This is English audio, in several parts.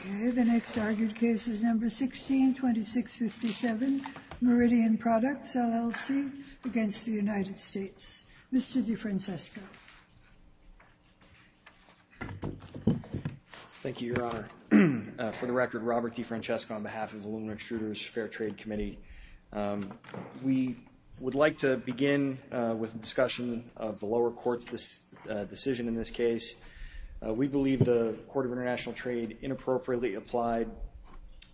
The next argued case is number 162657 Meridian Products, LLC against the United States. Mr. DeFrancesco. Thank you, Your Honor. For the record, Robert DeFrancesco on behalf of the Lumen Extruders Fair Trade Committee. We would like to begin with a discussion of the lower court's decision in this case. We believe the Court of International Trade inappropriately applied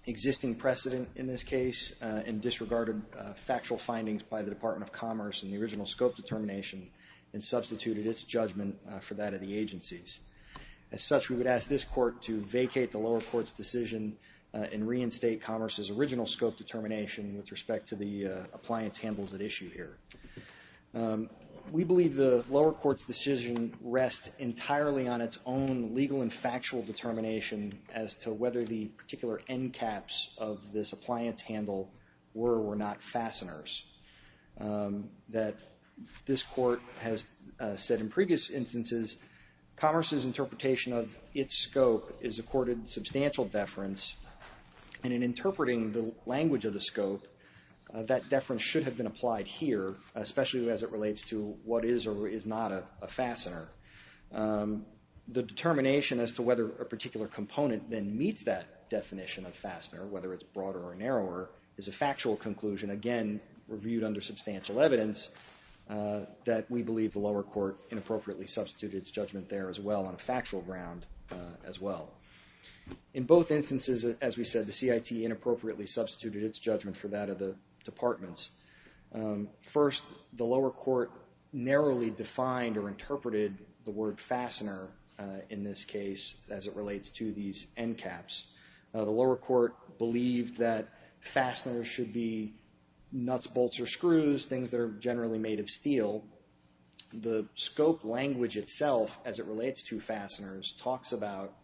existing precedent in this case and disregarded factual findings by the Department of Commerce in the original scope determination and substituted its judgment for that of the agencies. As such, we would ask this court to vacate the lower court's decision and reinstate Commerce's original scope determination with respect to the appliance handles at issue here. We believe the lower court's decision rests entirely on its own legal and factual determination as to whether the particular end caps of this appliance handle were or were not fasteners. That this court has said in previous instances, Commerce's interpretation of its scope is accorded substantial deference and in interpreting the language of the scope, that deference should have been applied here, especially as it relates to what is or is not a fastener. The determination as to whether a particular component then meets that definition of fastener, whether it's broader or narrower, is a factual conclusion, again, reviewed under substantial evidence, that we believe the lower court inappropriately substituted its judgment there as well on a factual ground as well. In both instances, as we said, the CIT inappropriately substituted its judgment for that of the departments. First, the lower court narrowly defined or interpreted the word fastener in this case as it relates to these end caps. The lower court believed that fasteners should be nuts, bolts, or screws, things that are generally made of steel. The scope language itself, as it relates to fasteners, talks about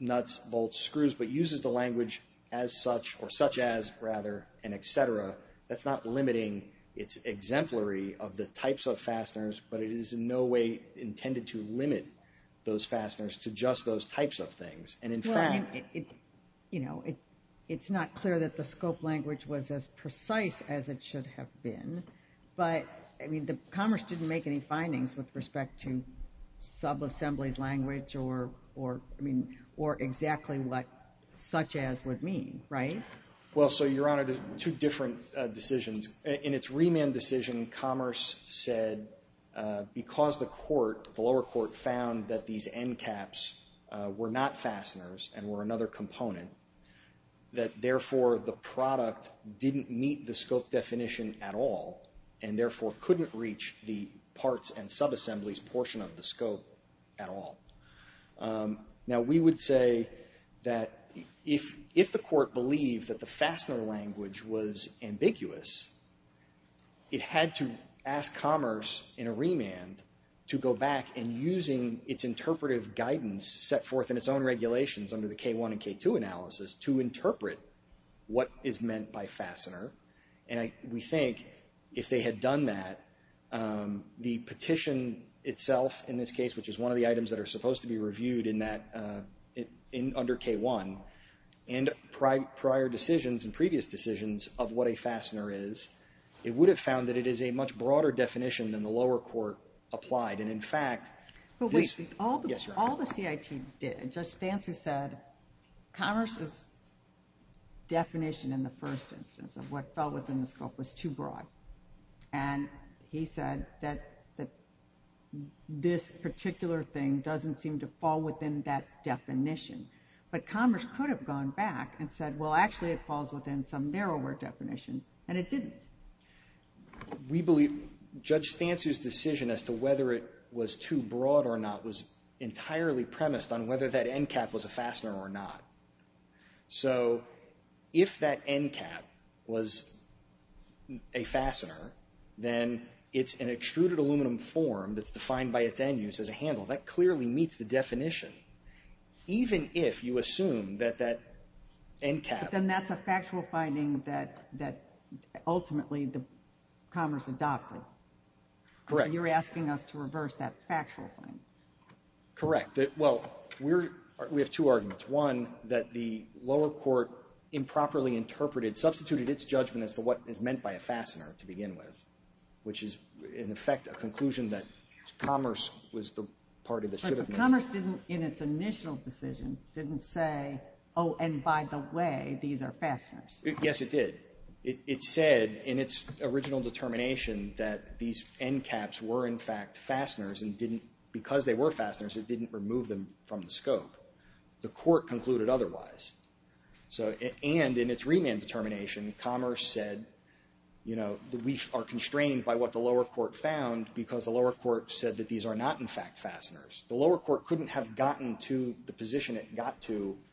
nuts, bolts, screws, but uses the language as such, or such as, rather, and et cetera. That's not limiting its exemplary of the types of fasteners, but it is in no way intended to limit those fasteners to just those types of things. In fact, it's not clear that the scope language was as precise as it should have been, but, I mean, Commerce didn't make any findings with respect to subassembly's language, or, I mean, or exactly what such as would mean, right? Well, so, Your Honor, two different decisions. In its remand decision, Commerce said because the court, the lower court, found that these end caps were not fasteners and were another component, that, therefore, the product didn't meet the scope definition at all, and, therefore, couldn't reach the parts and subassembly's portion of the scope at all. Now, we would say that if the court believed that the fastener language was ambiguous, it had to ask Commerce, in a remand, to go back, and using its interpretive guidance set forth in its own regulations under the K1 and K2 analysis, to interpret what is meant by fastener. And we think if they had done that, the petition itself, in this case, which is one of the items that are supposed to be reviewed under K1, and prior decisions and previous decisions of what a fastener is, it would have found that it is a much broader definition than the lower court applied. And, in fact, this — But wait. Yes, Your Honor. All the CIT did, Judge Stancy said Commerce's definition in the first instance of what fell within the scope was too broad. And he said that this particular thing doesn't seem to fall within that definition. But Commerce could have gone back and said, well, actually it falls within some narrower definition, and it didn't. We believe Judge Stancy's decision as to whether it was too broad or not was entirely premised on whether that end cap was a fastener or not. So if that end cap was a fastener, then it's an extruded aluminum form that's defined by its end use as a handle. That clearly meets the definition, even if you assume that that end cap — Commerce adopted. Correct. You're asking us to reverse that factual claim. Correct. Well, we're — we have two arguments. One, that the lower court improperly interpreted — substituted its judgment as to what is meant by a fastener to begin with, which is, in effect, a conclusion that Commerce was the party that should have been. But Commerce didn't, in its initial decision, didn't say, oh, and by the way, these are fasteners. Yes, it did. It said in its original determination that these end caps were, in fact, fasteners and didn't — because they were fasteners, it didn't remove them from the scope. The court concluded otherwise. So — and in its remand determination, Commerce said, you know, we are constrained by what the lower court found because the lower court said that these are not, in fact, fasteners. The lower court couldn't have gotten to the position it got to —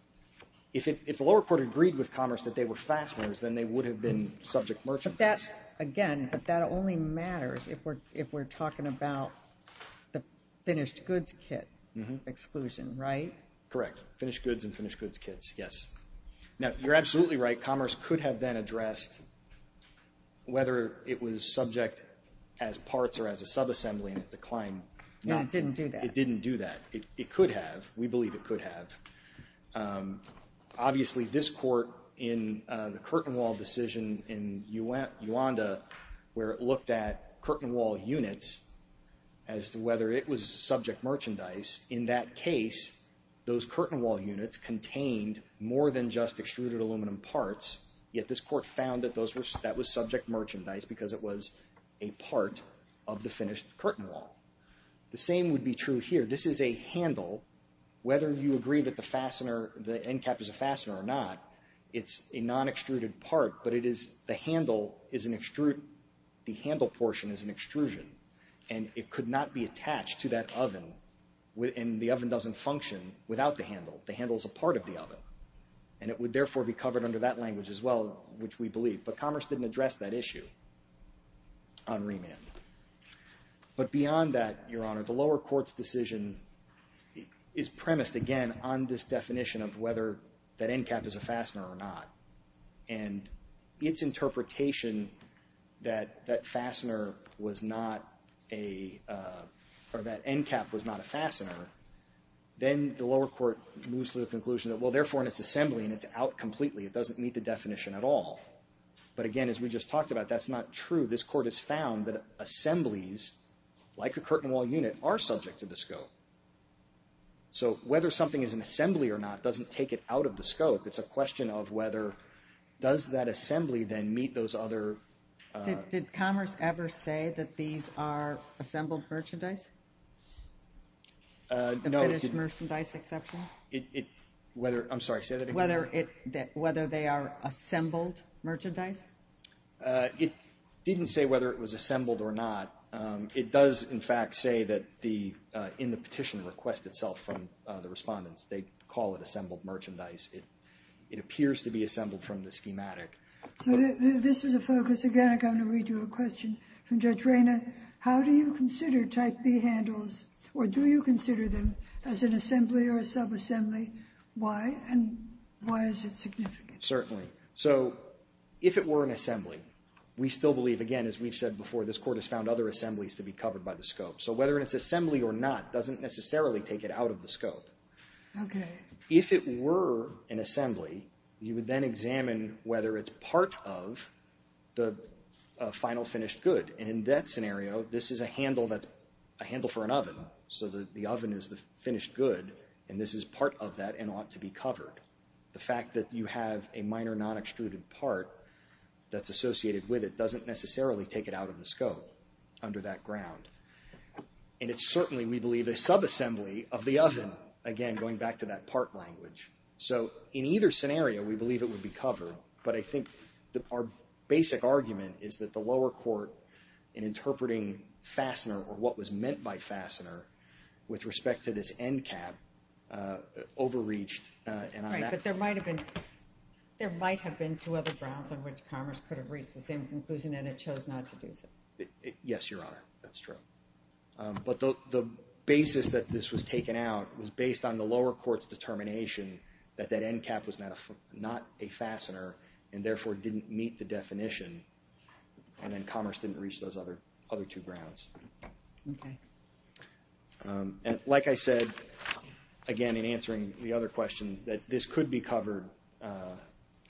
if the lower court agreed with Commerce that they were fasteners, then they would have been subject merchandise. But that's — again, but that only matters if we're — if we're talking about the finished goods kit exclusion, right? Correct. Finished goods and finished goods kits, yes. Now, you're absolutely right. Commerce could have then addressed whether it was subject as parts or as a subassembly, and it declined. No, it didn't do that. It didn't do that. It could have. We believe it could have. Obviously, this court, in the curtain wall decision in Uanda, where it looked at curtain wall units as to whether it was subject merchandise, in that case, those curtain wall units contained more than just extruded aluminum parts, yet this court found that those were — that was subject merchandise because it was a part of the finished curtain wall. The same would be true here. This is a handle. Whether you agree that the fastener, the end cap is a fastener or not, it's a non-extruded part, but it is — the handle is an extrude. The handle portion is an extrusion, and it could not be attached to that oven, and the oven doesn't function without the handle. The handle is a part of the oven, and it would, therefore, be covered under that language as well, which we believe. But Commerce didn't address that issue on remand. But beyond that, Your Honor, the lower court's decision is premised, again, on this definition of whether that end cap is a fastener or not. And its interpretation that that fastener was not a — or that end cap was not a fastener, then the lower court moves to the conclusion that, well, therefore, in its assembly and it's out completely, it doesn't meet the definition at all. But again, as we just talked about, that's not true. This court has found that assemblies, like a curtain wall unit, are subject to the scope. So whether something is an assembly or not doesn't take it out of the scope. It's a question of whether — does that assembly then meet those other — Did Commerce ever say that these are assembled merchandise? No. The finished merchandise exception? Whether — I'm sorry, say that again. Whether they are assembled merchandise? It didn't say whether it was assembled or not. It does, in fact, say that the — in the petition request itself from the respondents, they call it assembled merchandise. It appears to be assembled from the schematic. So this is a focus. Again, I'm going to read you a question from Judge Reyna. How do you consider Type B handles, or do you consider them as an assembly or a subassembly? Why? And why is it significant? Certainly. So if it were an assembly, we still believe, again, as we've said before, this court has found other assemblies to be covered by the scope. So whether it's assembly or not doesn't necessarily take it out of the scope. Okay. If it were an assembly, you would then examine whether it's part of the final finished good. And in that scenario, this is a handle that's a handle for an oven. So the oven is the finished good, and this is part of that and ought to be covered. The fact that you have a minor non-extruded part that's associated with it doesn't necessarily take it out of the scope under that ground. And it's certainly, we believe, a subassembly of the oven, again, going back to that part language. So in either scenario, we believe it would be covered, but I think our basic argument is that the lower court in interpreting fastener or what was meant by fastener with respect to this end cap overreached. Right. But there might have been two other grounds on which Commerce could have reached the same conclusion and it chose not to do so. Yes, Your Honor. That's true. But the basis that this was taken out was based on the lower court's determination that that end cap was not a fastener and therefore didn't meet the definition, and then Commerce didn't reach those other two grounds. Okay. And like I said, again, in answering the other question, that this could be covered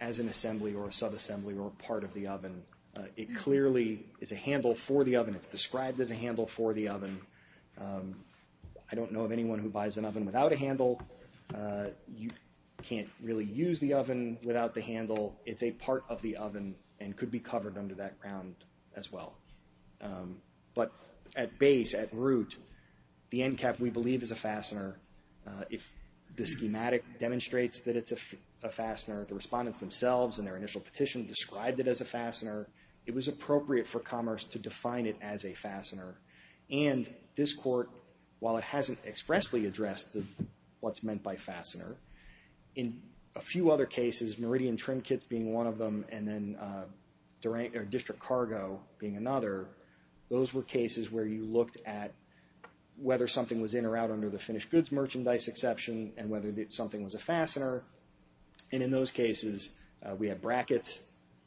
as an assembly or a subassembly or a part of the oven. It clearly is a handle for the oven. It's described as a handle for the oven. I don't know of anyone who buys an oven without a handle. You can't really use the oven without the handle. It's a part of the oven and could be covered under that ground as well. But at base, at root, the end cap we believe is a fastener. If the schematic demonstrates that it's a fastener, the respondents themselves in their initial petition described it as a fastener. It was appropriate for Commerce to define it as a fastener. And this court, while it hasn't expressly addressed what's meant by fastener, in a few other cases, Meridian Trim Kits being one of them and then District Cargo being another, those were cases where you looked at whether something was in or out under the finished goods merchandise exception and whether something was a fastener. And in those cases, we had brackets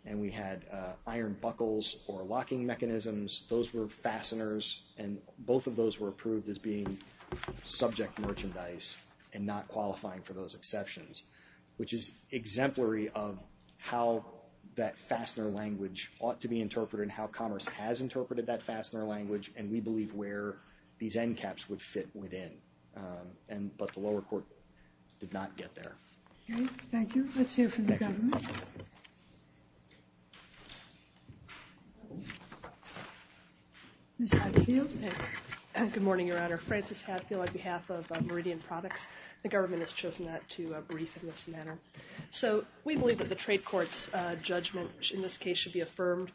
and we had iron buckles or locking mechanisms. Those were fasteners, and both of those were approved as being subject merchandise and not qualifying for those exceptions, which is exemplary of how that fastener language ought to be interpreted and how Commerce has interpreted that fastener language and we believe where these end caps would fit within. But the lower court did not get there. Thank you. Let's hear from the government. Ms. Hatfield. Good morning, Your Honor. Frances Hatfield on behalf of Meridian Products. The government has chosen not to brief in this manner. So we believe that the trade court's judgment in this case should be affirmed.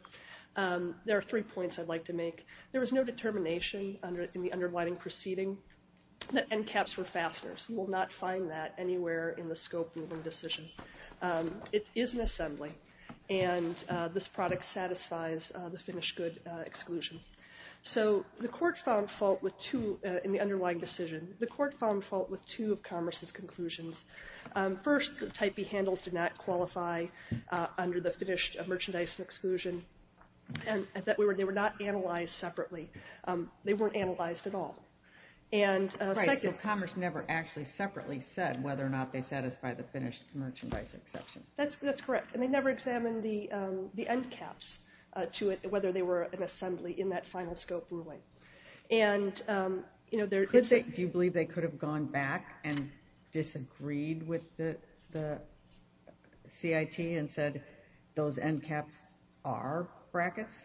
There are three points I'd like to make. There was no determination in the underlining proceeding that end caps were fasteners. You will not find that anywhere in the scope of the decision. It is an assembly, and this product satisfies the finished good exclusion. So the court found fault with two in the underlying decision. The court found fault with two of Commerce's conclusions. First, the Type B handles did not qualify under the finished merchandise exclusion and they were not analyzed separately. They weren't analyzed at all. Right, so Commerce never actually separately said whether or not they satisfy the finished merchandise exception. That's correct, and they never examined the end caps to it, whether they were an assembly in that final scope ruling. Do you believe they could have gone back and disagreed with the CIT and said those end caps are brackets?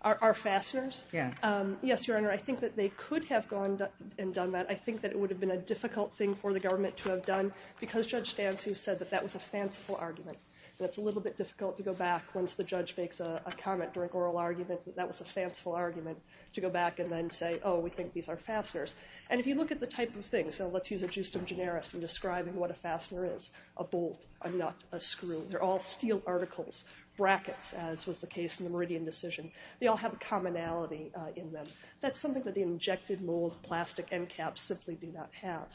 Are fasteners? Yes, Your Honor, I think that they could have gone and done that. I think that it would have been a difficult thing for the government to have done because Judge Stansu said that that was a fanciful argument. And it's a little bit difficult to go back once the judge makes a comment during oral argument that that was a fanciful argument to go back and then say, oh, we think these are fasteners. And if you look at the type of things, let's use a justum generis in describing what a fastener is, a bolt, a nut, a screw, they're all steel articles, brackets, as was the case in the Meridian decision. They all have a commonality in them. That's something that the injected mold plastic end caps simply do not have.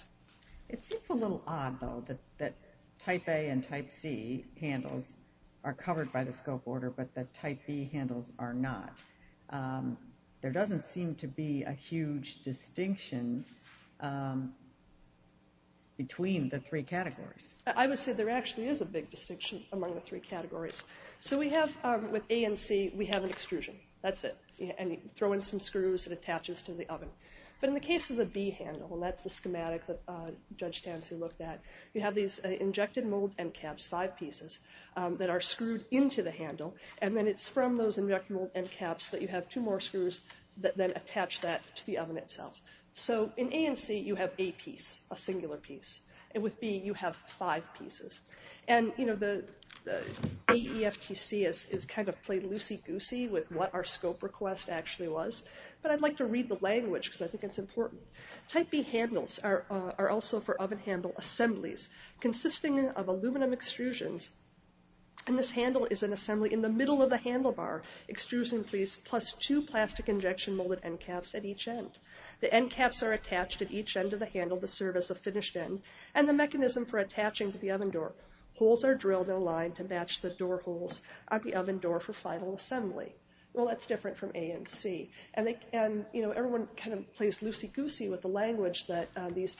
It seems a little odd, though, that type A and type C handles are covered by the scope order but that type B handles are not. There doesn't seem to be a huge distinction between the three categories. I would say there actually is a big distinction among the three categories. So we have with A and C, we have an extrusion. That's it. And you throw in some screws, it attaches to the oven. But in the case of the B handle, and that's the schematic that Judge Tansey looked at, you have these injected mold end caps, five pieces, that are screwed into the handle, and then it's from those injected mold end caps that you have two more screws that then attach that to the oven itself. So in A and C, you have a piece, a singular piece. With B, you have five pieces. And the AEFTC is kind of played loosey-goosey with what our scope request actually was, but I'd like to read the language because I think it's important. Type B handles are also for oven handle assemblies consisting of aluminum extrusions. And this handle is an assembly in the middle of the handlebar, extrusion piece, plus two plastic injection molded end caps at each end. The end caps are attached at each end of the handle to serve as a finished end, and the mechanism for attaching to the oven door. Holes are drilled in a line to match the door holes of the oven door for final assembly. Well, that's different from A and C. And, you know, everyone kind of plays loosey-goosey with the language that these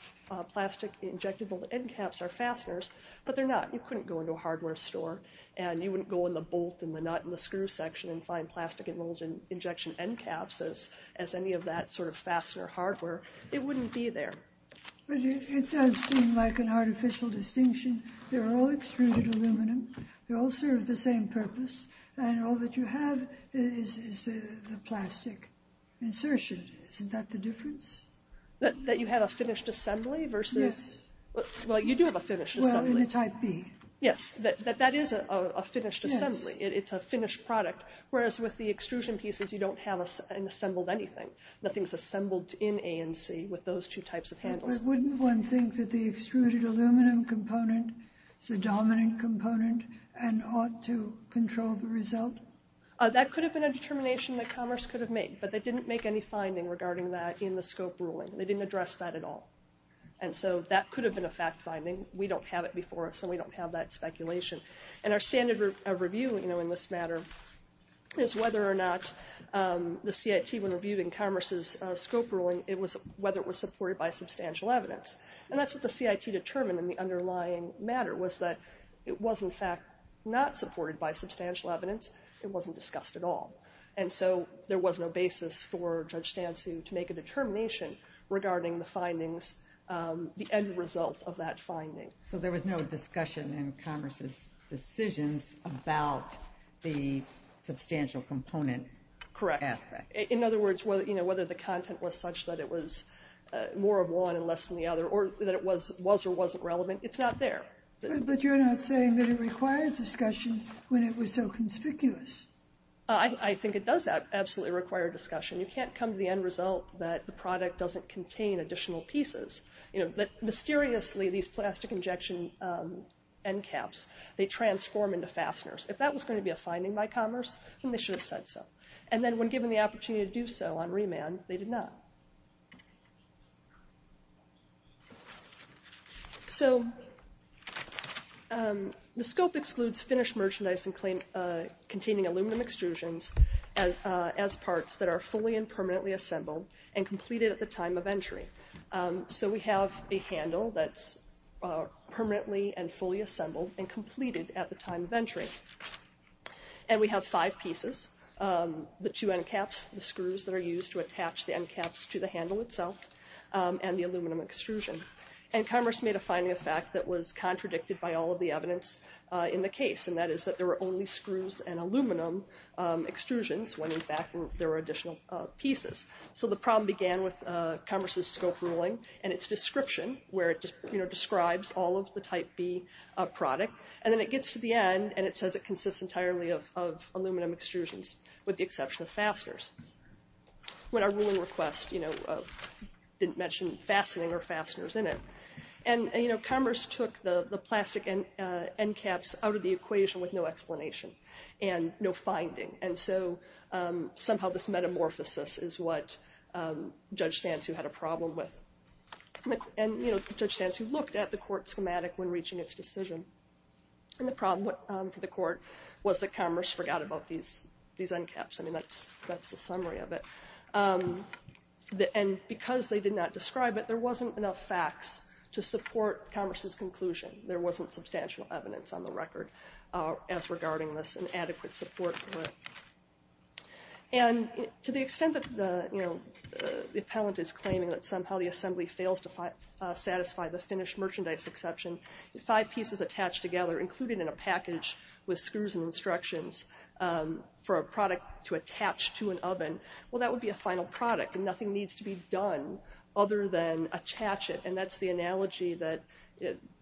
plastic injected mold end caps are fasteners, but they're not. You couldn't go into a hardware store, and you wouldn't go in the bolt and the nut and the screw section and find plastic injection end caps as any of that sort of fastener hardware. It wouldn't be there. But it does seem like an artificial distinction. They're all extruded aluminum. They all serve the same purpose, and all that you have is the plastic insertion. Isn't that the difference? That you have a finished assembly versus— Yes. Well, you do have a finished assembly. Well, in a Type B. Yes, that is a finished assembly. It's a finished product, whereas with the extrusion pieces, you don't have an assembled anything. Nothing's assembled in A and C with those two types of handles. Wouldn't one think that the extruded aluminum component is a dominant component and ought to control the result? That could have been a determination that Commerce could have made, but they didn't make any finding regarding that in the scope ruling. They didn't address that at all. And so that could have been a fact finding. We don't have it before us, and we don't have that speculation. And our standard of review, you know, in this matter is whether or not the CIT, when reviewed in Commerce's scope ruling, it was whether it was supported by substantial evidence. And that's what the CIT determined in the underlying matter, was that it was, in fact, not supported by substantial evidence. It wasn't discussed at all. And so there was no basis for Judge Stansu to make a determination regarding the findings, the end result of that finding. So there was no discussion in Commerce's decisions about the substantial component aspect. In other words, whether the content was such that it was more of one and less than the other or that it was or wasn't relevant, it's not there. But you're not saying that it required discussion when it was so conspicuous. I think it does absolutely require discussion. You can't come to the end result that the product doesn't contain additional pieces. Mysteriously, these plastic injection end caps, they transform into fasteners. If that was going to be a finding by Commerce, then they should have said so. And then when given the opportunity to do so on remand, they did not. So the scope excludes finished merchandise containing aluminum extrusions as parts that are fully and permanently assembled and completed at the time of entry. So we have a handle that's permanently and fully assembled and completed at the time of entry. And we have five pieces. The two end caps, the screws that are used to attach the end caps to the handle itself, and the aluminum extrusion. And Commerce made a finding of fact that was contradicted by all of the evidence in the case, and that is that there were only screws and aluminum extrusions when, in fact, there were additional pieces. So the problem began with Commerce's scope ruling and its description, where it describes all of the Type B product. And then it gets to the end, and it says it consists entirely of aluminum extrusions with the exception of fasteners. When our ruling request didn't mention fastening or fasteners in it. And Commerce took the plastic end caps out of the equation with no explanation and no finding. And so somehow this metamorphosis is what Judge Stansu had a problem with. And, you know, Judge Stansu looked at the court schematic when reaching its decision. And the problem for the court was that Commerce forgot about these end caps. I mean, that's the summary of it. And because they did not describe it, there wasn't enough facts to support Commerce's conclusion. There wasn't substantial evidence on the record as regarding this and adequate support for it. And to the extent that the appellant is claiming that somehow the Assembly fails to satisfy the finished merchandise exception, five pieces attached together, included in a package with screws and instructions for a product to attach to an oven, well, that would be a final product, and nothing needs to be done other than attach it. And that's the analogy that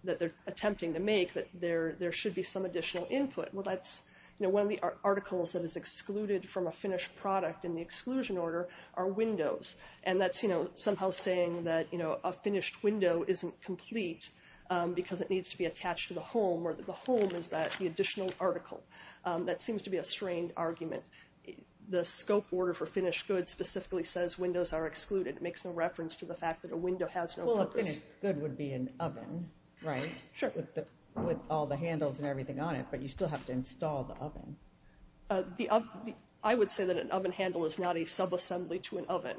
they're attempting to make, that there should be some additional input. Well, that's, you know, one of the articles that is excluded from a finished product in the exclusion order are windows. And that's, you know, somehow saying that, you know, a finished window isn't complete because it needs to be attached to the home or that the home is the additional article. That seems to be a strained argument. The scope order for finished goods specifically says windows are excluded. It makes no reference to the fact that a window has no purpose. Well, a finished good would be an oven, right? Sure. With all the handles and everything on it, but you still have to install the oven. I would say that an oven handle is not a subassembly to an oven.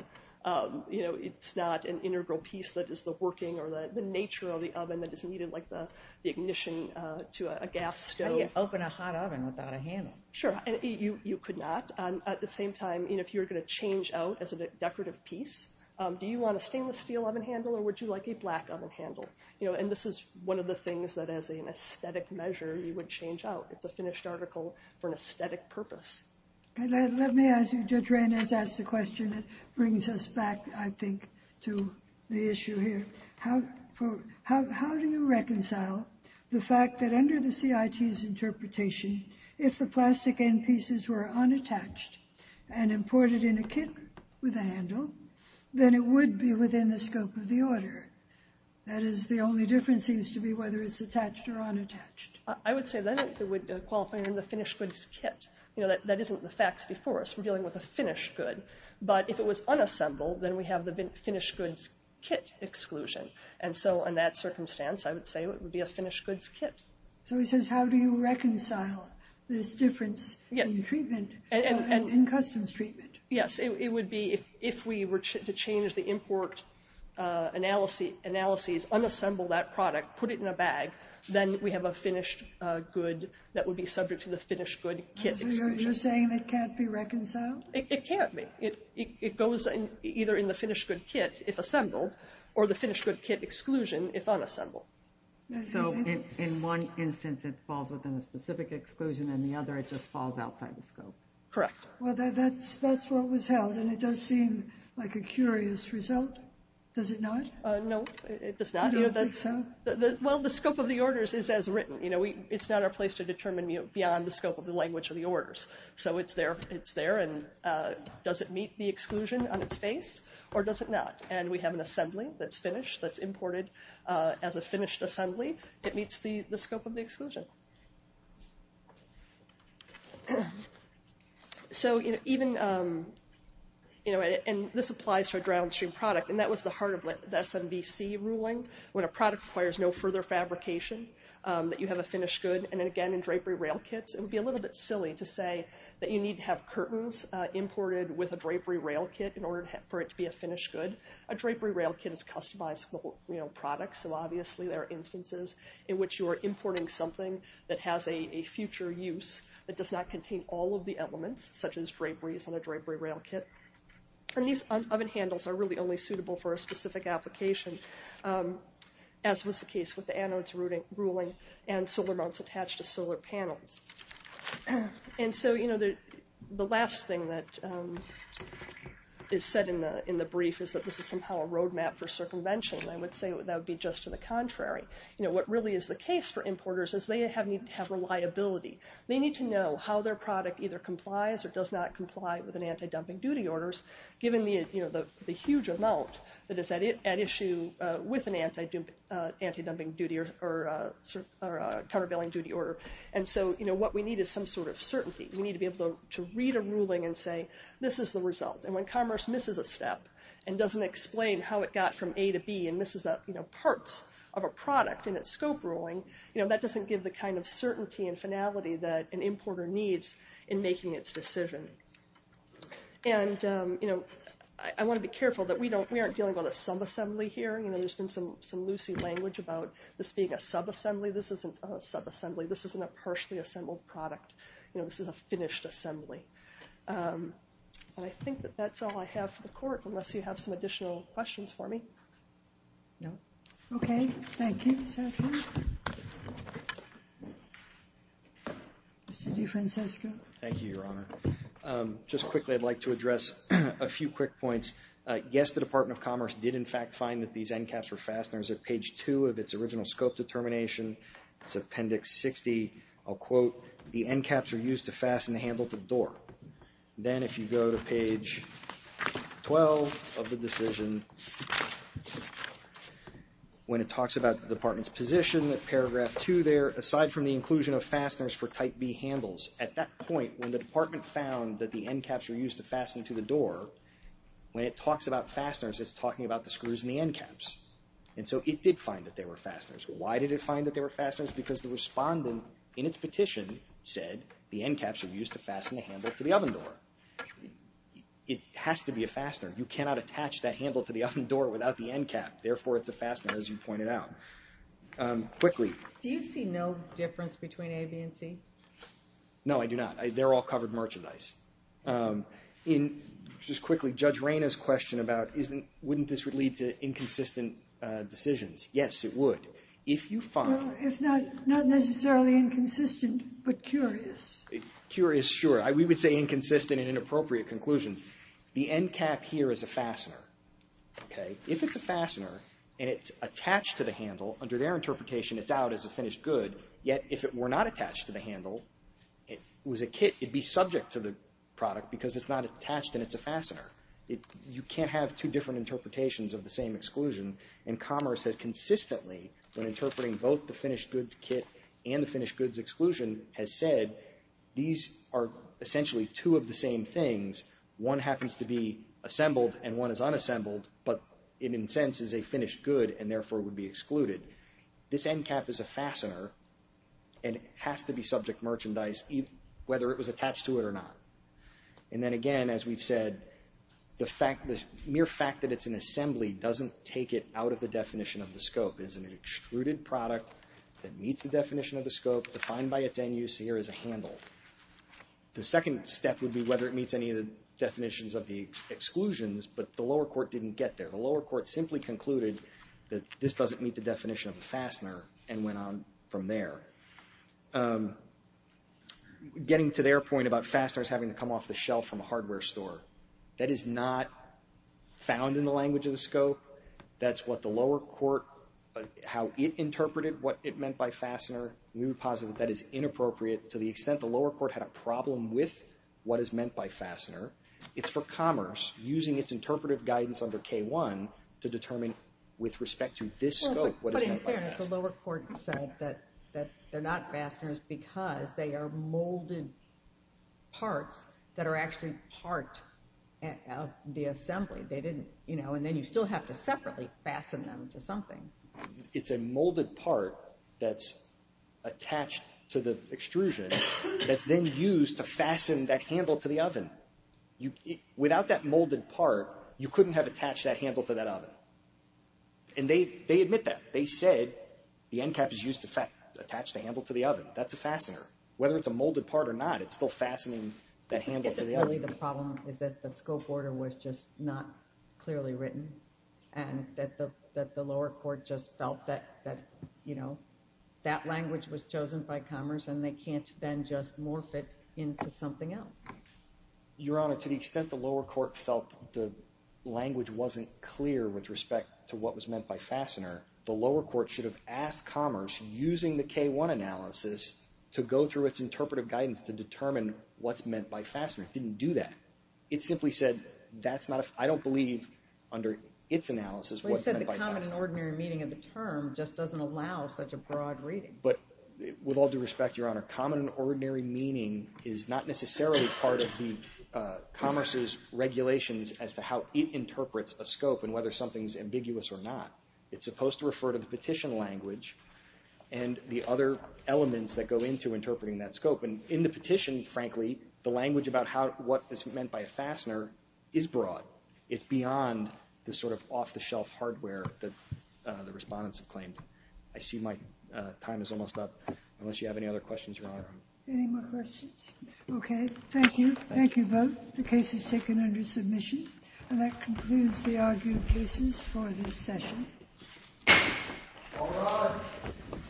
You know, it's not an integral piece that is the working or the nature of the oven that is needed, like the ignition to a gas stove. How do you open a hot oven without a handle? Sure. You could not. At the same time, if you were going to change out as a decorative piece, do you want a stainless steel oven handle or would you like a black oven handle? You know, and this is one of the things that as an aesthetic measure you would change out. It's a finished article for an aesthetic purpose. Let me ask you. Judge Reynes asked a question that brings us back, I think, to the issue here. How do you reconcile the fact that under the CIT's interpretation, if the plastic end pieces were unattached and imported in a kit with a handle, then it would be within the scope of the order? That is, the only difference seems to be whether it's attached or unattached. I would say then it would qualify under the finished goods kit. You know, that isn't the facts before us. We're dealing with a finished good. But if it was unassembled, then we have the finished goods kit exclusion. And so in that circumstance, I would say it would be a finished goods kit. So he says, how do you reconcile this difference in treatment, in customs treatment? Yes, it would be if we were to change the import analyses, unassemble that product, put it in a bag, then we have a finished good that would be subject to the finished good kit exclusion. So you're saying it can't be reconciled? It can't be. It goes either in the finished good kit if assembled, or the finished good kit exclusion if unassembled. So in one instance it falls within a specific exclusion, and in the other it just falls outside the scope? Correct. Well, that's what was held, and it does seem like a curious result. Does it not? No, it does not. You don't think so? Well, the scope of the orders is as written. You know, it's not our place to determine beyond the scope of the language of the orders. So it's there, and does it meet the exclusion on its face, or does it not? And we have an assembly that's finished, that's imported as a finished assembly. It meets the scope of the exclusion. So even, you know, and this applies to a downstream product, and that was the heart of the SMBC ruling, when a product requires no further fabrication, that you have a finished good. And again, in drapery rail kits, it would be a little bit silly to say that you need to have curtains imported with a drapery rail kit in order for it to be a finished good. A drapery rail kit is a customized product, so obviously there are instances in which you are importing something that has a future use that does not contain all of the elements, such as draperies on a drapery rail kit. And these oven handles are really only suitable for a specific application, as was the case with the anodes ruling and solar mounts attached to solar panels. And so, you know, the last thing that is said in the brief is that this is somehow a roadmap for circumvention, and I would say that would be just to the contrary. You know, what really is the case for importers is they need to have reliability. They need to know how their product either complies or does not comply with anti-dumping duty orders, given the huge amount that is at issue with an anti-dumping duty or countervailing duty order. And so, you know, what we need is some sort of certainty. We need to be able to read a ruling and say, this is the result. And when commerce misses a step and doesn't explain how it got from A to B and misses parts of a product in its scope ruling, you know, that doesn't give the kind of certainty and finality that an importer needs in making its decision. And, you know, I want to be careful that we aren't dealing with a subassembly here. You know, there's been some loosey language about this being a subassembly. This isn't a subassembly. This isn't a partially assembled product. You know, this is a finished assembly. And I think that that's all I have for the court, unless you have some additional questions for me. No. Okay. Thank you. Mr. DeFrancisco. Thank you, Your Honor. Just quickly, I'd like to address a few quick points. Yes, the Department of Commerce did, in fact, find that these end caps were fasteners. At page 2 of its original scope determination, it's Appendix 60. I'll quote, the end caps are used to fasten the handle to the door. Then, if you go to page 12 of the decision, when it talks about the Department's position, at paragraph 2 there, aside from the inclusion of fasteners for Type B handles, at that point, when the Department found that the end caps were used to fasten to the door, when it talks about fasteners, it's talking about the screws in the end caps. And so it did find that they were fasteners. Why did it find that they were fasteners? Because the respondent, in its petition, said the end caps were used to fasten the handle to the oven door. It has to be a fastener. You cannot attach that handle to the oven door without the end cap. Therefore, it's a fastener, as you pointed out. Quickly. Do you see no difference between A, B, and C? No, I do not. They're all covered merchandise. Just quickly, Judge Reyna's question about wouldn't this lead to inconsistent decisions. Yes, it would. Not necessarily inconsistent, but curious. Curious, sure. We would say inconsistent and inappropriate conclusions. The end cap here is a fastener. If it's a fastener and it's attached to the handle, under their interpretation it's out as a finished good, yet if it were not attached to the handle, it would be subject to the product because it's not attached and it's a fastener. You can't have two different interpretations of the same exclusion. Commerce has consistently, when interpreting both the finished goods kit and the finished goods exclusion, has said these are essentially two of the same things. One happens to be assembled and one is unassembled, but in a sense is a finished good and therefore would be excluded. This end cap is a fastener and it has to be subject merchandise whether it was attached to it or not. And then again, as we've said, the mere fact that it's an assembly doesn't take it out of the definition of the scope. It is an extruded product that meets the definition of the scope defined by its end use here as a handle. The second step would be whether it meets any of the definitions of the exclusions, but the lower court didn't get there. The lower court simply concluded that this doesn't meet the definition of a fastener and went on from there. Getting to their point about fasteners having to come off the shelf from a hardware store, that is not found in the language of the scope. That's what the lower court, how it interpreted what it meant by fastener. We would posit that that is inappropriate to the extent the lower court had a problem with what is meant by fastener. It's for Commerce, using its interpretive guidance under K-1, to determine with respect to this scope what is meant by fastener. The lower court said that they're not fasteners because they are molded parts that are actually part of the assembly. They didn't, you know, and then you still have to separately fasten them to something. It's a molded part that's attached to the extrusion that's then used to fasten that handle to the oven. Without that molded part, you couldn't have attached that handle to that oven. And they admit that. They said the end cap is used to attach the handle to the oven. That's a fastener. Whether it's a molded part or not, it's still fastening that handle to the oven. The problem is that the scope order was just not clearly written and that the lower court just felt that, you know, that language was chosen by Commerce and they can't then just morph it into something else. Your Honor, to the extent the lower court felt the language wasn't clear with respect to what was meant by fastener, the lower court should have asked Commerce, using the K-1 analysis, to go through its interpretive guidance to determine what's meant by fastener. It didn't do that. It simply said, I don't believe under its analysis what's meant by fastener. Well, you said the common and ordinary meaning of the term just doesn't allow such a broad reading. But with all due respect, Your Honor, common and ordinary meaning is not necessarily part of Commerce's regulations as to how it interprets a scope and whether something's ambiguous or not. It's supposed to refer to the petition language and the other elements that go into interpreting that scope. And in the petition, frankly, the language about what is meant by a fastener is broad. It's beyond the sort of off-the-shelf hardware that the respondents have claimed. I see my time is almost up. Unless you have any other questions, Your Honor. Any more questions? Okay. Thank you. Thank you both. The case is taken under submission. And that concludes the argued cases for this session. All rise.